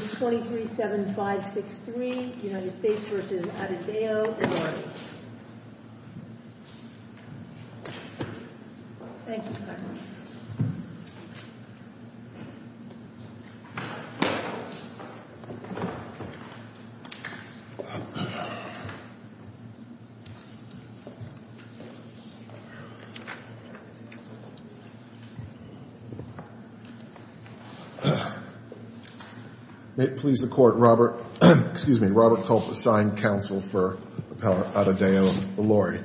237563 United States v. Adebayo, Ilori. May it please the Court, Robert, excuse me, Robert Culp assigned counsel for Appellant Adebayo, Ilori.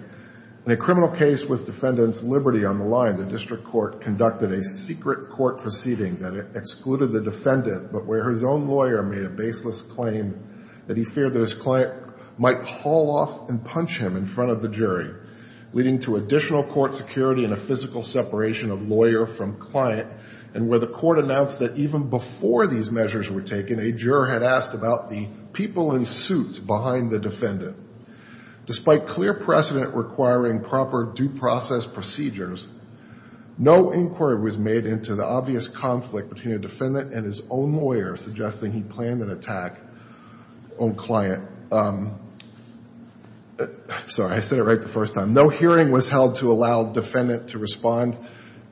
In a criminal case with Defendant's Liberty on the line, the District Court conducted a secret court proceeding that excluded the defendant, but where his own lawyer made a baseless claim that he feared that his client might haul off and punch him in front of the jury, leading to additional court security and a physical separation of lawyer from client, and where the court announced that even before these measures were taken, a juror had asked about the people in suits behind the defendant. Despite clear precedent requiring proper due process procedures, no inquiry was made into the obvious conflict between a defendant and his own lawyer suggesting he planned an attack on client. Sorry, I said it right the first time. No hearing was held to allow defendant to respond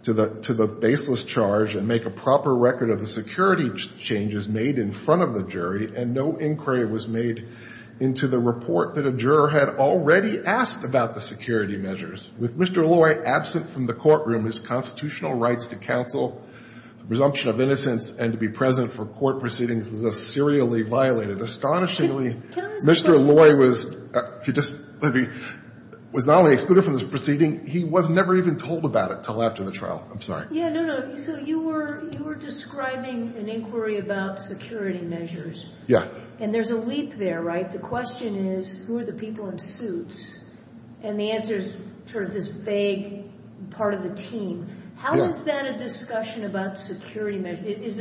to the baseless charge and make a proper record of the security changes made in front of the jury, and no inquiry was made into the report that a juror had already asked about the security measures. With Mr. Ilori absent from the courtroom, his constitutional rights to counsel, the presumption of innocence and to be present for court proceedings was serially violated. Astonishingly, Mr. Ilori was not only excluded from this proceeding, he was never even told about it until after the trial. I'm sorry. Yeah, no, no. So you were describing an inquiry about security measures. Yeah. And there's a leap there, right? The question is, who are the people in suits? And the answer is sort of this vague part of the team. How is that a discussion about security measures?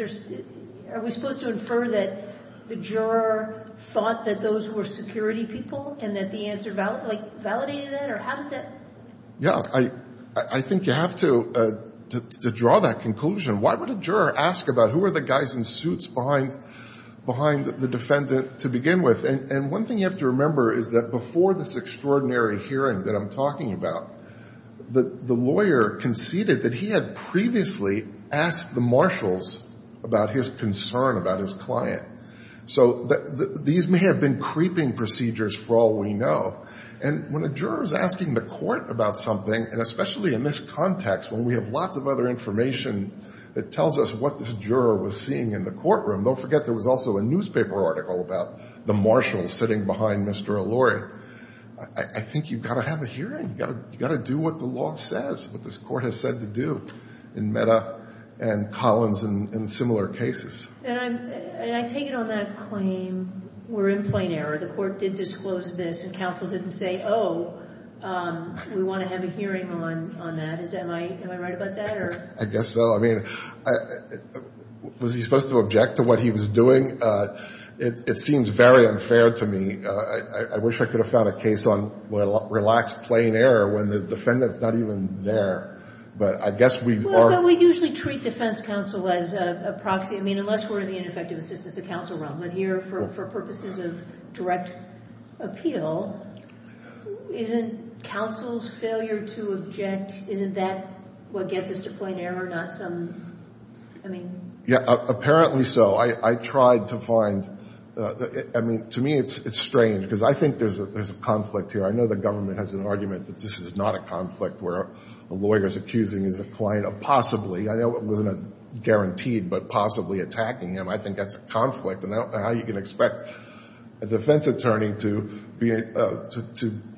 Are we supposed to infer that the juror thought that those were security people and that the answer validated that? Or how does that... Yeah, I think you have to draw that conclusion. Why would a juror ask about who are the guys in suits behind the defendant to begin with? And one thing you have to remember is that before this extraordinary hearing that I'm talking about, the lawyer conceded that he had previously asked the marshals about his concern about his client. So these may have been creeping procedures for all we know. And when a juror is asking the court about something, and especially in this context, when we have lots of other information that tells us what this juror was seeing in the courtroom, don't forget there was also a newspaper article about the marshals sitting behind Mr. Ilori. I think you've got to have a hearing. You've got to do what the law says, what this court has said to do in Meta and Collins and similar cases. And I take it on that claim we're in plain error. The court did disclose this and counsel didn't say, oh, we want to have a hearing on that. Am I right about that? I guess so. I mean, was he supposed to object to what he was doing? It seems very unfair to me. I wish I could have found a case on relaxed plain error when the defendant's not even there. But I guess we are... But we usually treat defense counsel as a proxy. I mean, unless we're in the ineffective assistance of counsel realm. But here, for purposes of direct appeal, isn't counsel's failure to object, isn't that what gets us to plain error, not some... I mean... Yeah, apparently so. I tried to find... I mean, to me it's strange because I think there's a conflict here. I know the government has an argument that this is not a conflict where a lawyer's accusing his client of possibly, I know it wasn't a guaranteed, but possibly attacking him. I think that's a conflict. And I don't know how you can expect a defense attorney to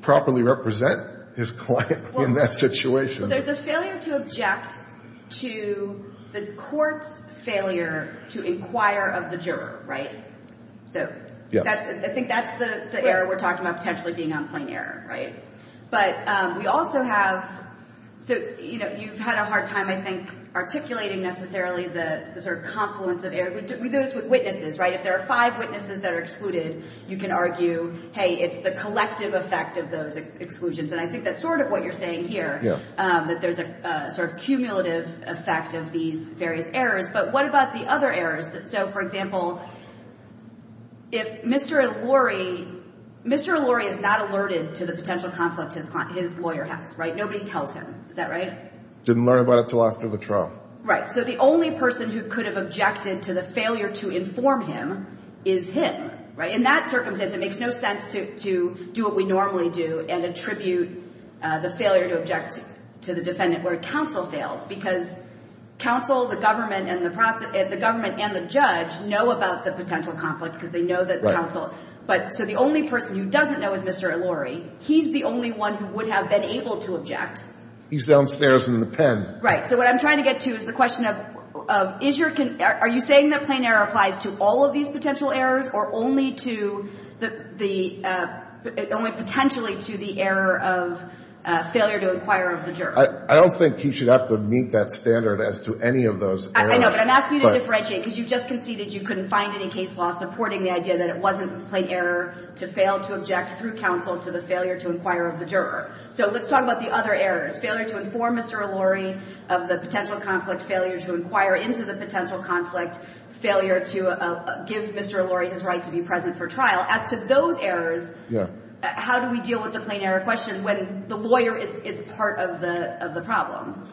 properly represent his client in that situation. There's a failure to object to the court's failure to inquire of the juror, right? So I think that's the error we're talking about potentially being on plain error, right? But we also have... So you've had a hard time, I think, articulating necessarily the sort of confluence of error. We do this with witnesses, right? If there are five witnesses that are excluded, you can argue, hey, it's the collective effect of those exclusions. And I think that's sort of what you're saying here, that there's a sort of cumulative effect of these various errors. But what about the other errors? So, for example, if Mr. Lurie... potential conflict his lawyer has, right? Nobody tells him. Is that right? Didn't learn about it until after the trial. Right. So the only person who could have objected to the failure to inform him is him, right? In that circumstance, it makes no sense to do what we normally do and attribute the failure to object to the defendant where counsel fails. Because counsel, the government, and the judge know about the potential conflict because they know that counsel... So the only person who doesn't know is Mr. Lurie. He's the only one who would have been able to object. He's downstairs in the pen. Right. So what I'm trying to get to is the question of, are you saying that plain error applies to all of these potential errors or only to potentially to the error of failure to inquire of the jury? I don't think you should have to meet that standard as to any of those errors. I know, but I'm asking you to differentiate because you just conceded you couldn't find any case law supporting the idea that it wasn't plain error to fail to object through counsel to the failure to inquire of the juror. So let's talk about the other errors. Failure to inform Mr. Lurie of the potential conflict. Failure to inquire into the potential conflict. Failure to give Mr. Lurie his right to be present for trial. As to those errors, how do we deal with the plain error question when the lawyer is part of the problem?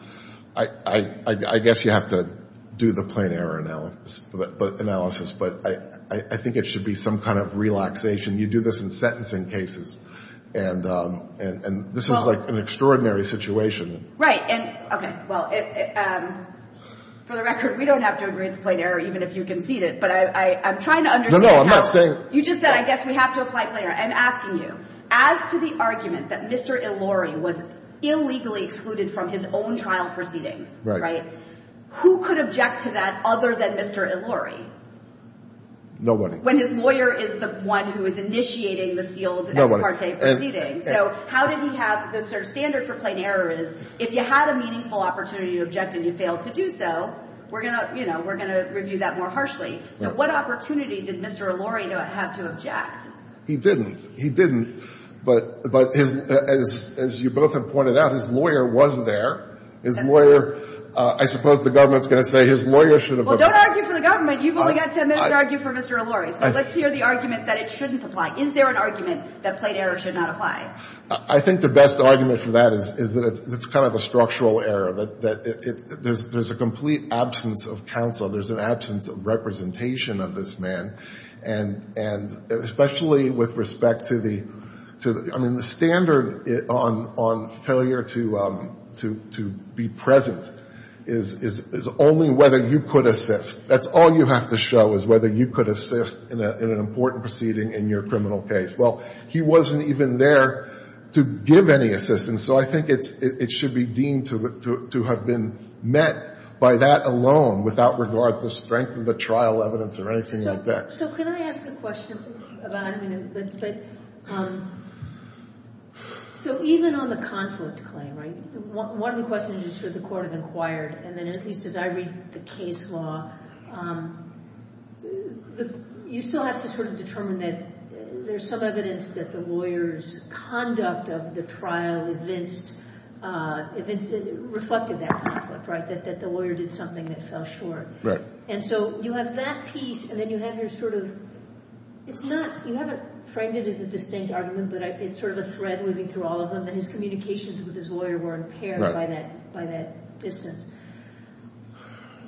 I guess you have to do the plain error analysis, but I think it should be some kind of relaxation. You do this in sentencing cases, and this is like an extraordinary situation. Right. And, okay, well, for the record, we don't have to agree it's plain error, even if you conceded, but I'm trying to understand how... No, no, I'm not saying... You just said, I guess we have to apply plain error. I'm asking you, as to the argument that Mr. Lurie was illegally excluded from his own trial proceedings, right, who could object to that other than Mr. Lurie? When his lawyer is the one who is initiating the sealed ex parte proceedings. So how did he have, the sort of standard for plain error is, if you had a meaningful opportunity to object and you failed to do so, we're going to, you know, we're going to review that more harshly. So what opportunity did Mr. Lurie have to object? He didn't. He didn't. But as you both have pointed out, his lawyer was there. His lawyer, I suppose the government's going to say his lawyer should have... Well, don't argue for the government. You've only got to argue for Mr. Lurie. So let's hear the argument that it shouldn't apply. Is there an argument that plain error should not apply? I think the best argument for that is that it's kind of a structural error, that there's a complete absence of counsel. There's an absence of representation of this man. And especially with respect to the, I mean, the standard on failure to be present is only whether you could assist. That's all you have to show is whether you could assist in an important proceeding in your criminal case. Well, he wasn't even there to give any assistance. So I think it should be deemed to have been met by that alone, without regard to strength of the trial evidence or anything like that. So can I ask a question about... So even on the conflict claim, right? One of the questions is, should the court have inquired? And then at least as I read the case law, you still have to sort of determine that there's some evidence that the lawyer's conduct of the trial reflected that conflict, right? That the lawyer did something that fell short. Right. And so you have that piece and then you have your sort of... It's not, you haven't framed it as a distinct argument, but it's sort of a thread moving through all of them. And his communications with his lawyer were impaired by that distance.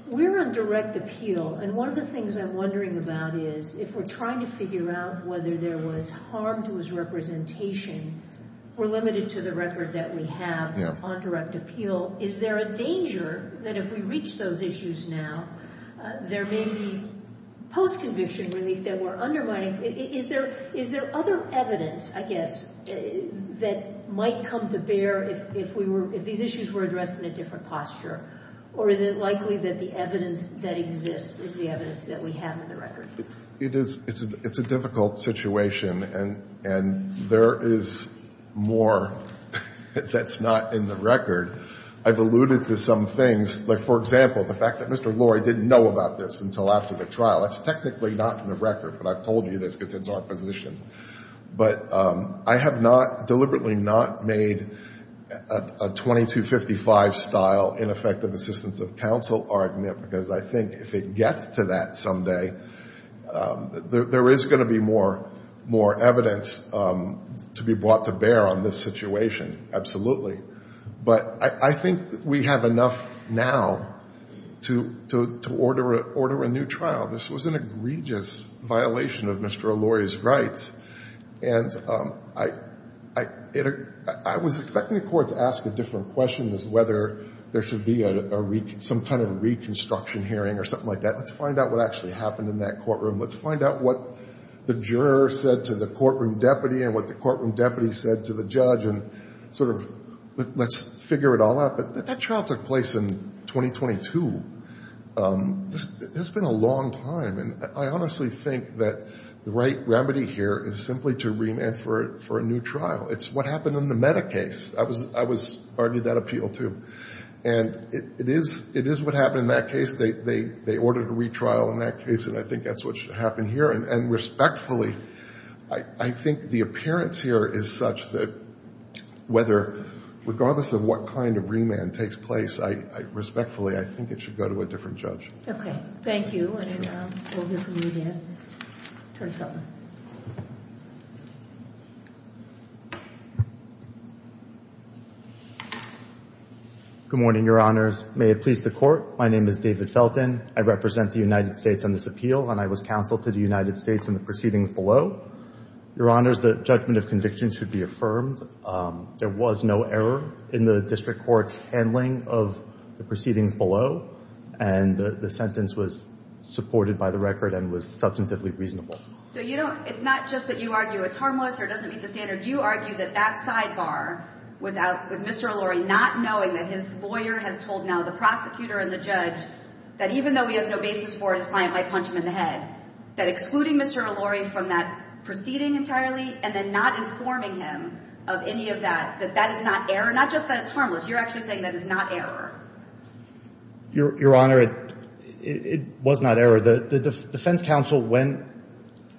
We're on direct appeal. And one of the things I'm wondering about is, if we're trying to figure out whether there was harm to his representation, we're limited to the record that we have on direct appeal. Is there a danger that if we reach those issues now, there may be post-conviction relief that we're undermining? Is there other evidence, I guess, that might come to bear if these issues were addressed in a different posture? Or is it likely that the evidence that exists is the evidence that we have in the record? It's a difficult situation and there is more that's not in the record. I've alluded to some things, like for example, the fact that Mr. Lurie didn't know about this until after the trial. That's technically not in the record, but I've told you this because it's our position. But I have not, deliberately not made a 2255-style ineffective assistance of counsel argument, because I think if it gets to that someday, there is going to be more evidence to be brought to bear on this situation. Absolutely. But I think we have enough now to order a new trial. This was an egregious violation of Mr. Lurie's rights. And I was expecting the court to ask a different question as whether there should be some kind of reconstruction hearing or something like that. Let's find out what actually happened in that courtroom. Let's find out what the juror said to the courtroom deputy and what the courtroom deputy said to the judge and sort of let's figure it all out. But that trial took place in 2022. It's been a long time. And I honestly think that the right remedy here is simply to remand for a new trial. It's what happened in the Meda case. I was part of that appeal, too. And it is what happened in that case. They ordered a retrial in that case, and I think that's what happened here. And respectfully, I think the appearance here is such that whether regardless of what kind of remand takes place, respectfully, I think it should go to a different judge. OK. Thank you. And we'll hear from you again, Attorney General. Good morning, Your Honors. May it please the court. My name is David Felton. I represent the United States on this appeal, and I was counsel to the United States in the proceedings below. Your Honors, the judgment of conviction should be affirmed. There was no error in the district court's handling of the proceedings below. And the sentence was supported by the record and was substantively reasonable. So it's not just that you argue it's harmless or it doesn't meet the standard. You argue that that sidebar with Mr. Ellory not knowing that his lawyer has told now the prosecutor and the judge that even though he has no basis for it, his client might punch him in the head. That excluding Mr. Ellory from that proceeding entirely and then not informing him of any of that, that that is not error. Not just that it's harmless. You're actually saying that it's not error. Your Honor, it was not error. The defense counsel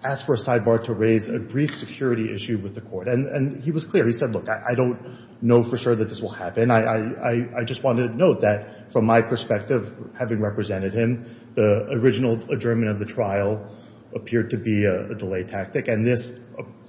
asked for a sidebar to raise a brief security issue with the court. And he was clear. He said, look, I don't know for sure that this will happen. I just wanted to note that from my perspective, having represented him, the original adjournment of the trial appeared to be a delay tactic. And this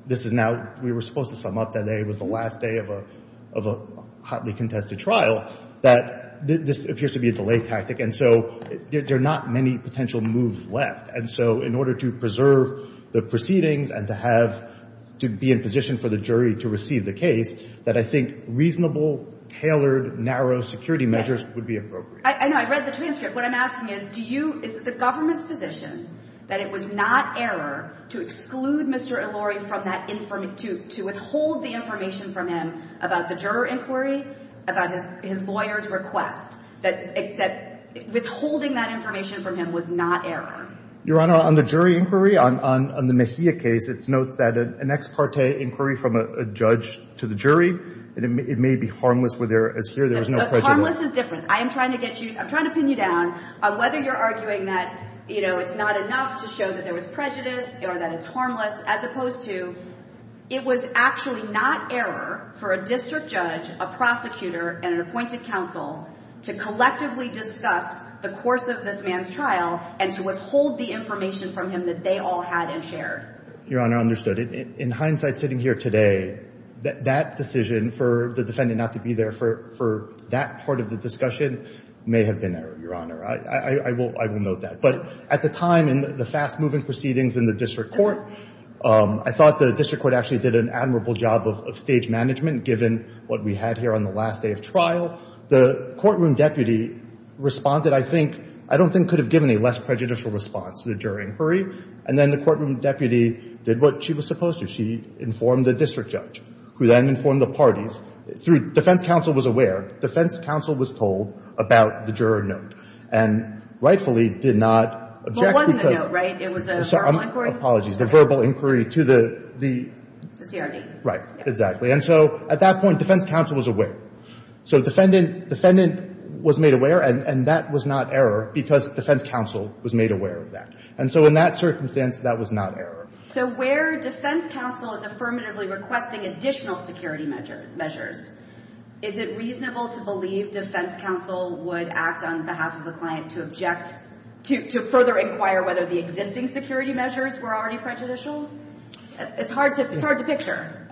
is now, we were supposed to sum up that it was the last day of a hotly contested trial, that this appears to be a delay tactic. And so there are not many potential moves left. And so in order to preserve the proceedings and to be in position for the jury to receive the case, that I think reasonable, tailored, narrow security measures would be appropriate. I know. I read the transcript. What I'm asking is, do you, is the government's position that it was not error to exclude Mr. Eluri from that, to withhold the information from him about the juror inquiry, about his lawyer's request, that withholding that information from him was not error? Your Honor, on the jury inquiry, on the Mejia case, it's noted that an ex parte inquiry from a judge to the jury, it may be harmless where there is no prejudice. But harmless is different. I am trying to get you, I'm trying to pin you down. Whether you're arguing that it's not enough to show that there was prejudice or that it's harmless, as opposed to, it was actually not error for a district judge, a prosecutor, and an appointed counsel to collectively discuss the course of this man's trial and to withhold the information from him that they all had and shared. Your Honor, understood. In hindsight, sitting here today, that decision for the defendant not to be there for that part of the discussion may have been error, Your Honor. I will note that. But at the time in the fast-moving proceedings in the district court, I thought the district court actually did an admirable job of stage management, given what we had here on the last day of trial. The courtroom deputy responded, I think, I don't think could have given a less prejudicial response to the jury inquiry. And then the courtroom deputy did what she was supposed to. She informed the district judge, who then informed the parties. Defense counsel was aware. Defense counsel was told about the juror note and rightfully did not object. It wasn't a note, right? It was a verbal inquiry? Apologies. The verbal inquiry to the CRD. Right. Exactly. And so at that point, defense counsel was aware. So defendant was made aware. And that was not error because defense counsel was made aware of that. And so in that circumstance, that was not error. So where defense counsel is affirmatively requesting additional security measures, is it reasonable to believe defense counsel would act on behalf of a client to object, to further inquire whether the existing security measures were already prejudicial? It's hard to picture.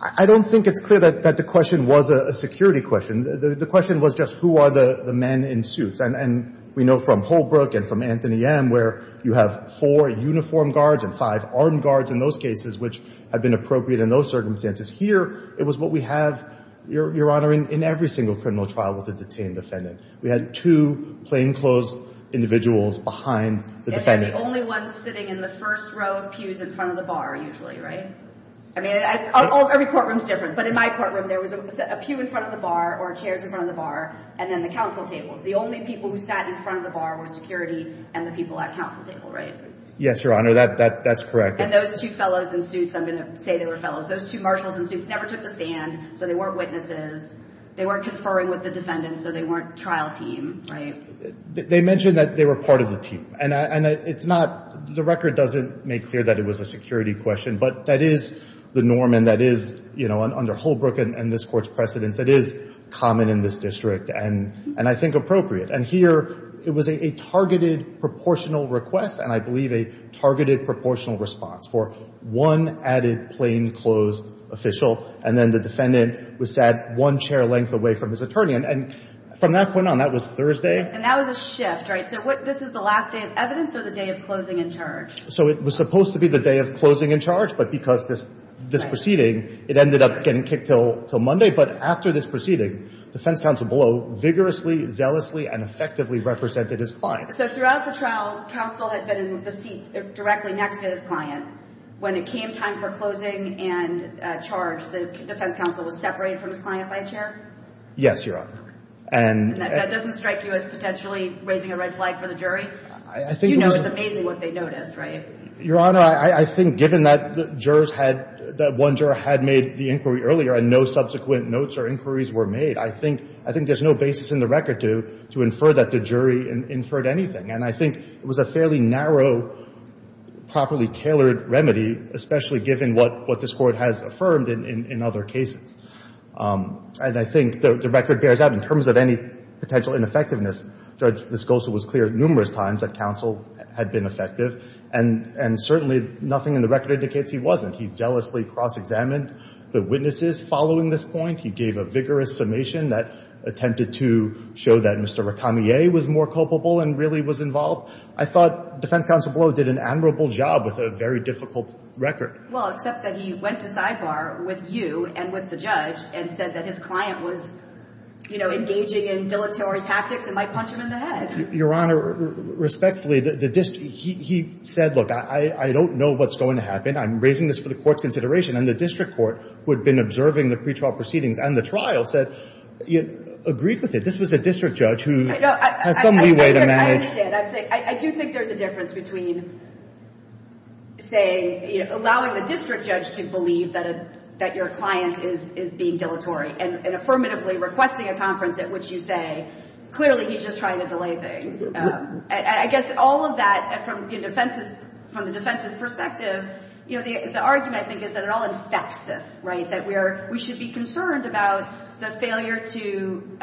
I don't think it's clear that the question was a security question. The question was just, who are the men in suits? And we know from Holbrook and from Anthony M, where you have four uniformed guards and five armed guards in those cases, which had been appropriate in those circumstances. Here, it was what we have, Your Honor, in every single criminal trial with a detained defendant. We had two plainclothes individuals behind the defendant. And they're the only ones sitting in the first row of pews in front of the bar, usually, right? I mean, every courtroom is different. But in my courtroom, there was a pew in front of the bar or chairs in front of the bar, and then the counsel tables. The only people who sat in front of the bar were security and the people at counsel table, right? Yes, Your Honor, that's correct. And those two fellows in suits, I'm going to say they were fellows. Those two marshals in suits never took the stand, so they weren't witnesses. They weren't conferring with the defendant, so they weren't trial team, right? They mentioned that they were part of the team. And it's not, the record doesn't make clear that it was a security question. But that is the norm, and that is, you know, under Holbrook and this court's precedence, that is common in this district and I think appropriate. And here, it was a targeted proportional request, and I believe a targeted proportional response for one added plainclothes official, and then the defendant was sat one chair length away from his attorney. And from that point on, that was Thursday. And that was a shift, right? So this is the last day of evidence or the day of closing and charge? So it was supposed to be the day of closing and charge, but because this proceeding, it ended up getting kicked till Monday. But after this proceeding, defense counsel below vigorously, zealously, and effectively represented his client. So throughout the trial, counsel had been in the seat directly next to his client. When it came time for closing and charge, the defense counsel was separated from his client by a chair? Yes, Your Honor. And that doesn't strike you as potentially raising a red flag for the jury? I think it was amazing what they noticed, right? Your Honor, I think given that jurors had, that one juror had made the inquiry earlier and no subsequent notes or inquiries were made, I think there's no basis in the record to infer that the jury inferred anything. And I think it was a fairly narrow, properly tailored remedy, especially given what this Court has affirmed in other cases. And I think the record bears out in terms of any potential ineffectiveness. Judge Viscosa was clear numerous times that counsel had been effective. And certainly, nothing in the record indicates he wasn't. He zealously cross-examined the witnesses following this point. He gave a vigorous summation that attempted to show that Mr. Recamier was more culpable and really was involved. I thought defense counsel Blow did an admirable job with a very difficult record. Well, except that he went to sidebar with you and with the judge and said that his client was engaging in dilatory tactics and might punch him in the head. Your Honor, respectfully, he said, look, I don't know what's going to happen. I'm raising this for the Court's consideration. And the district court, who had been observing the pretrial proceedings and the trial, said, agreed with it. This was a district judge who has some leeway to manage. I understand. I'm saying, I do think there's a difference between saying, allowing the district judge to believe that your client is being dilatory and affirmatively requesting a conference at which you say, clearly, he's just trying to delay things. I guess all of that, from the defense's perspective, the argument, I think, is that it all infects this, right? That we should be concerned about the failure to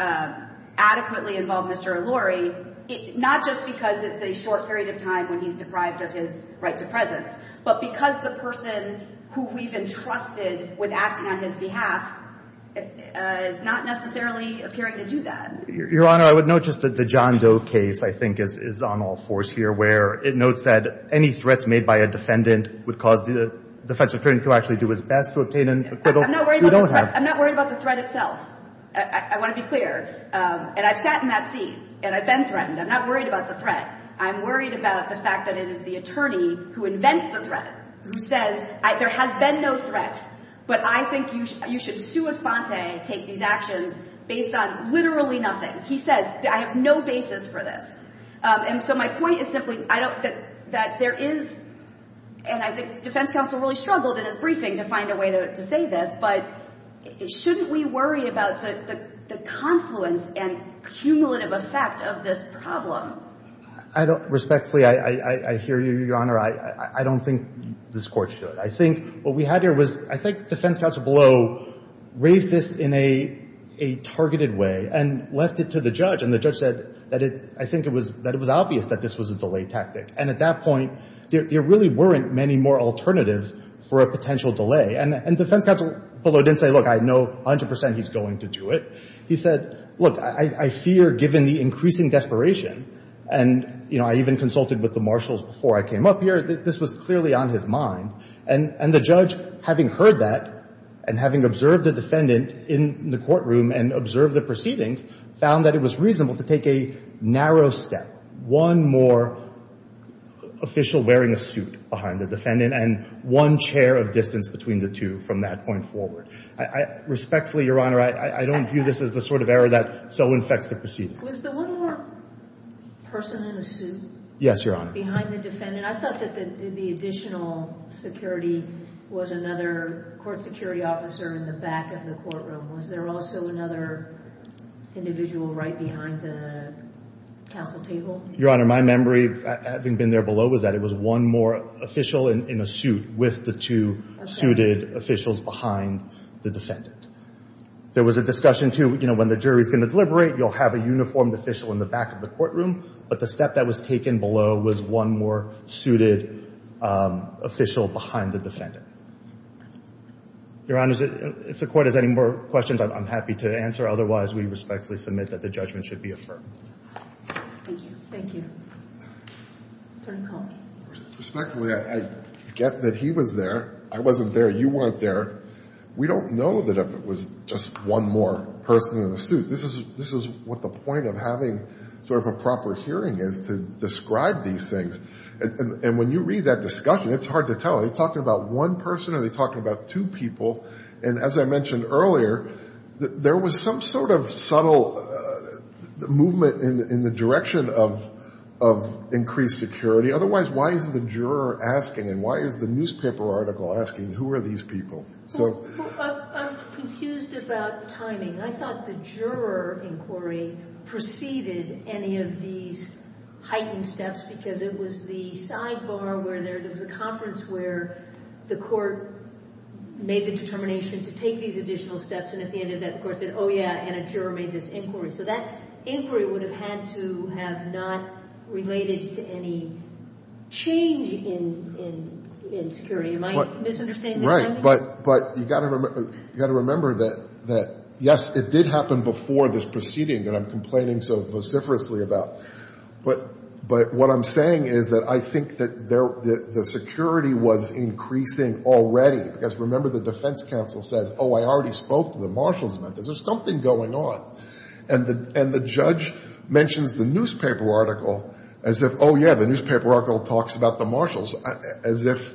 adequately involve Mr. O'Loury, not just because it's a short period of time when he's deprived of his right to presence, but because the person who we've entrusted with acting on his behalf is not necessarily appearing to do that. Your Honor, I would note just that the John Doe case, I think, is on all fours here, where it notes that any threats made by a defendant would cause the defense attorney to actually do his best to obtain an acquittal. I'm not worried about the threat. I want to be clear. And I've sat in that seat. And I've been threatened. I'm not worried about the threat. I'm worried about the fact that it is the attorney who invents the threat, who says, there has been no threat. But I think you should sua sponte, take these actions, based on literally nothing. He says, I have no basis for this. And so my point is simply that there is, and I think the defense counsel really struggled in his briefing to find a way to say this, but shouldn't we worry about the confluence and cumulative effect of this problem? Respectfully, I hear you, Your Honor. I don't think this court should. I think what we had here was, I think the defense counsel below raised this in a targeted way and left it to the judge. And the judge said that I think it was obvious that this was a delay tactic. And at that point, there really weren't many more alternatives for a potential delay. And the defense counsel below didn't say, look, I know 100% he's going to do it. He said, look, I fear, given the increasing desperation, and I even consulted with the marshals before I came up here, this was clearly on his mind. And the judge, having heard that and having observed the defendant in the courtroom and observed the proceedings, found that it was reasonable to take a narrow step, one more official wearing a suit behind the defendant and one chair of distance between the two from that point forward. Respectfully, Your Honor, I don't view this as the sort of error that so infects the proceedings. Was the one more person in a suit behind the defendant? I thought that the additional security was another court security officer in the back of the courtroom. Was there also another individual right behind the counsel table? Your Honor, my memory, having been there below, was that it was one more official in a suit with the two suited officials behind the defendant. There was a discussion, too, when the jury's going to deliberate, you'll have a uniformed official in the back of the courtroom. But the step that was taken below was one more suited official behind the defendant. Your Honor, if the court has any more questions, I'm happy to answer. Otherwise, we respectfully submit that the judgment should be affirmed. Thank you. Thank you. Attorney Cohen. Respectfully, I get that he was there. I wasn't there. You weren't there. We don't know that it was just one more person in a suit. This is what the point of having sort of a proper hearing is, to describe these things. And when you read that discussion, it's hard to tell. Are they talking about one person? Are they talking about two people? And as I mentioned earlier, there was some sort of subtle movement in the direction of increased security. Otherwise, why is the juror asking, and why is the newspaper article asking, who are these people? I'm confused about timing. I thought the juror inquiry preceded any of these heightened steps, because it was the sidebar where there was a conference where the court made the determination to take these additional steps. And at the end of that, the court said, oh, yeah. And a juror made this inquiry. So that inquiry would have had to have not related to any change in security. Am I misunderstanding the timing? But you've got to remember that, yes, it did happen before this proceeding that I'm complaining so vociferously about. But what I'm saying is that I think that the security was increasing already. Because remember, the defense counsel says, oh, I already spoke to the marshals about this. There's something going on. And the judge mentions the newspaper article as if, oh, yeah, the newspaper article talks about the marshals, as if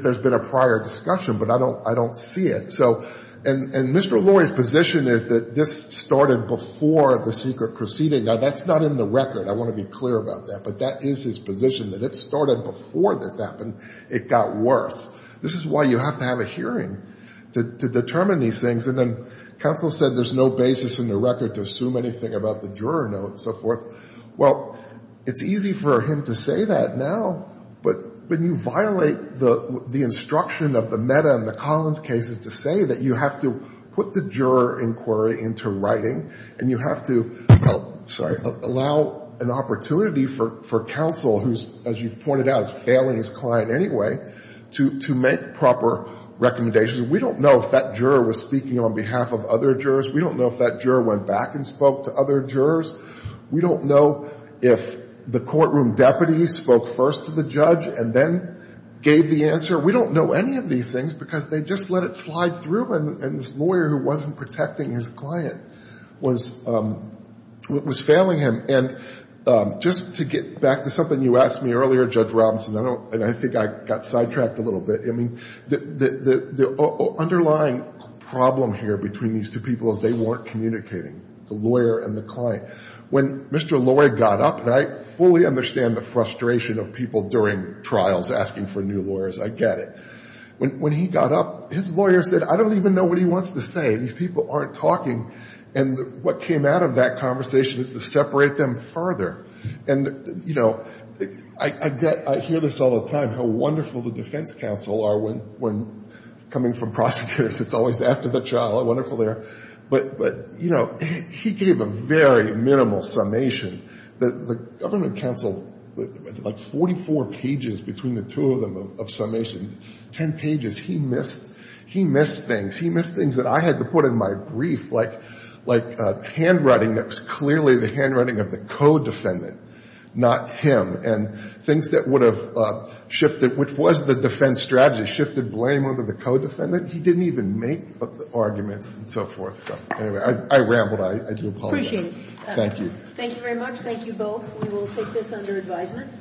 there's been a prior discussion. But I don't see it. So and Mr. Lurie's position is that this started before the secret proceeding. Now, that's not in the record. I want to be clear about that. But that is his position, that it started before this happened. It got worse. This is why you have to have a hearing to determine these things. And then counsel said there's no basis in the record to assume anything about the juror note and so forth. Well, it's easy for him to say that now. But when you violate the instruction of the Mehta and the Collins cases to say that you have to put the juror inquiry into writing and you have to allow an opportunity for counsel, who's, as you've pointed out, is failing his client anyway, to make proper recommendations, we don't know if that juror was speaking on behalf of other jurors. We don't know if that juror went back and spoke to other jurors. We don't know if the courtroom deputy spoke first to the judge and then gave the answer. We don't know any of these things because they just let it slide through. And this lawyer who wasn't protecting his client was failing him. And just to get back to something you asked me earlier, Judge Robinson, and I think I got sidetracked a little bit. I mean, the underlying problem here between these two people is they weren't communicating, the lawyer and the client. When Mr. Laurie got up, and I fully understand the frustration of people during trials asking for new lawyers. I get it. When he got up, his lawyer said, I don't even know what he wants to say. These people aren't talking. And what came out of that conversation is to separate them further. And I hear this all the time, how wonderful the defense counsel are when coming from prosecutors. It's always after the trial. Wonderful there. But he gave a very minimal summation. The government counsel, like 44 pages between the two of them of summation, 10 pages, he missed things. He missed things that I had to put in my brief, like handwriting that was clearly the handwriting of the co-defendant, not him. And things that would have shifted, which was the defense strategy, shifted blame onto the co-defendant. He didn't even make up the arguments and so forth. So anyway, I rambled. I do apologize. Appreciate it. Thank you. Thank you very much. Thank you both. We will take this under advisement.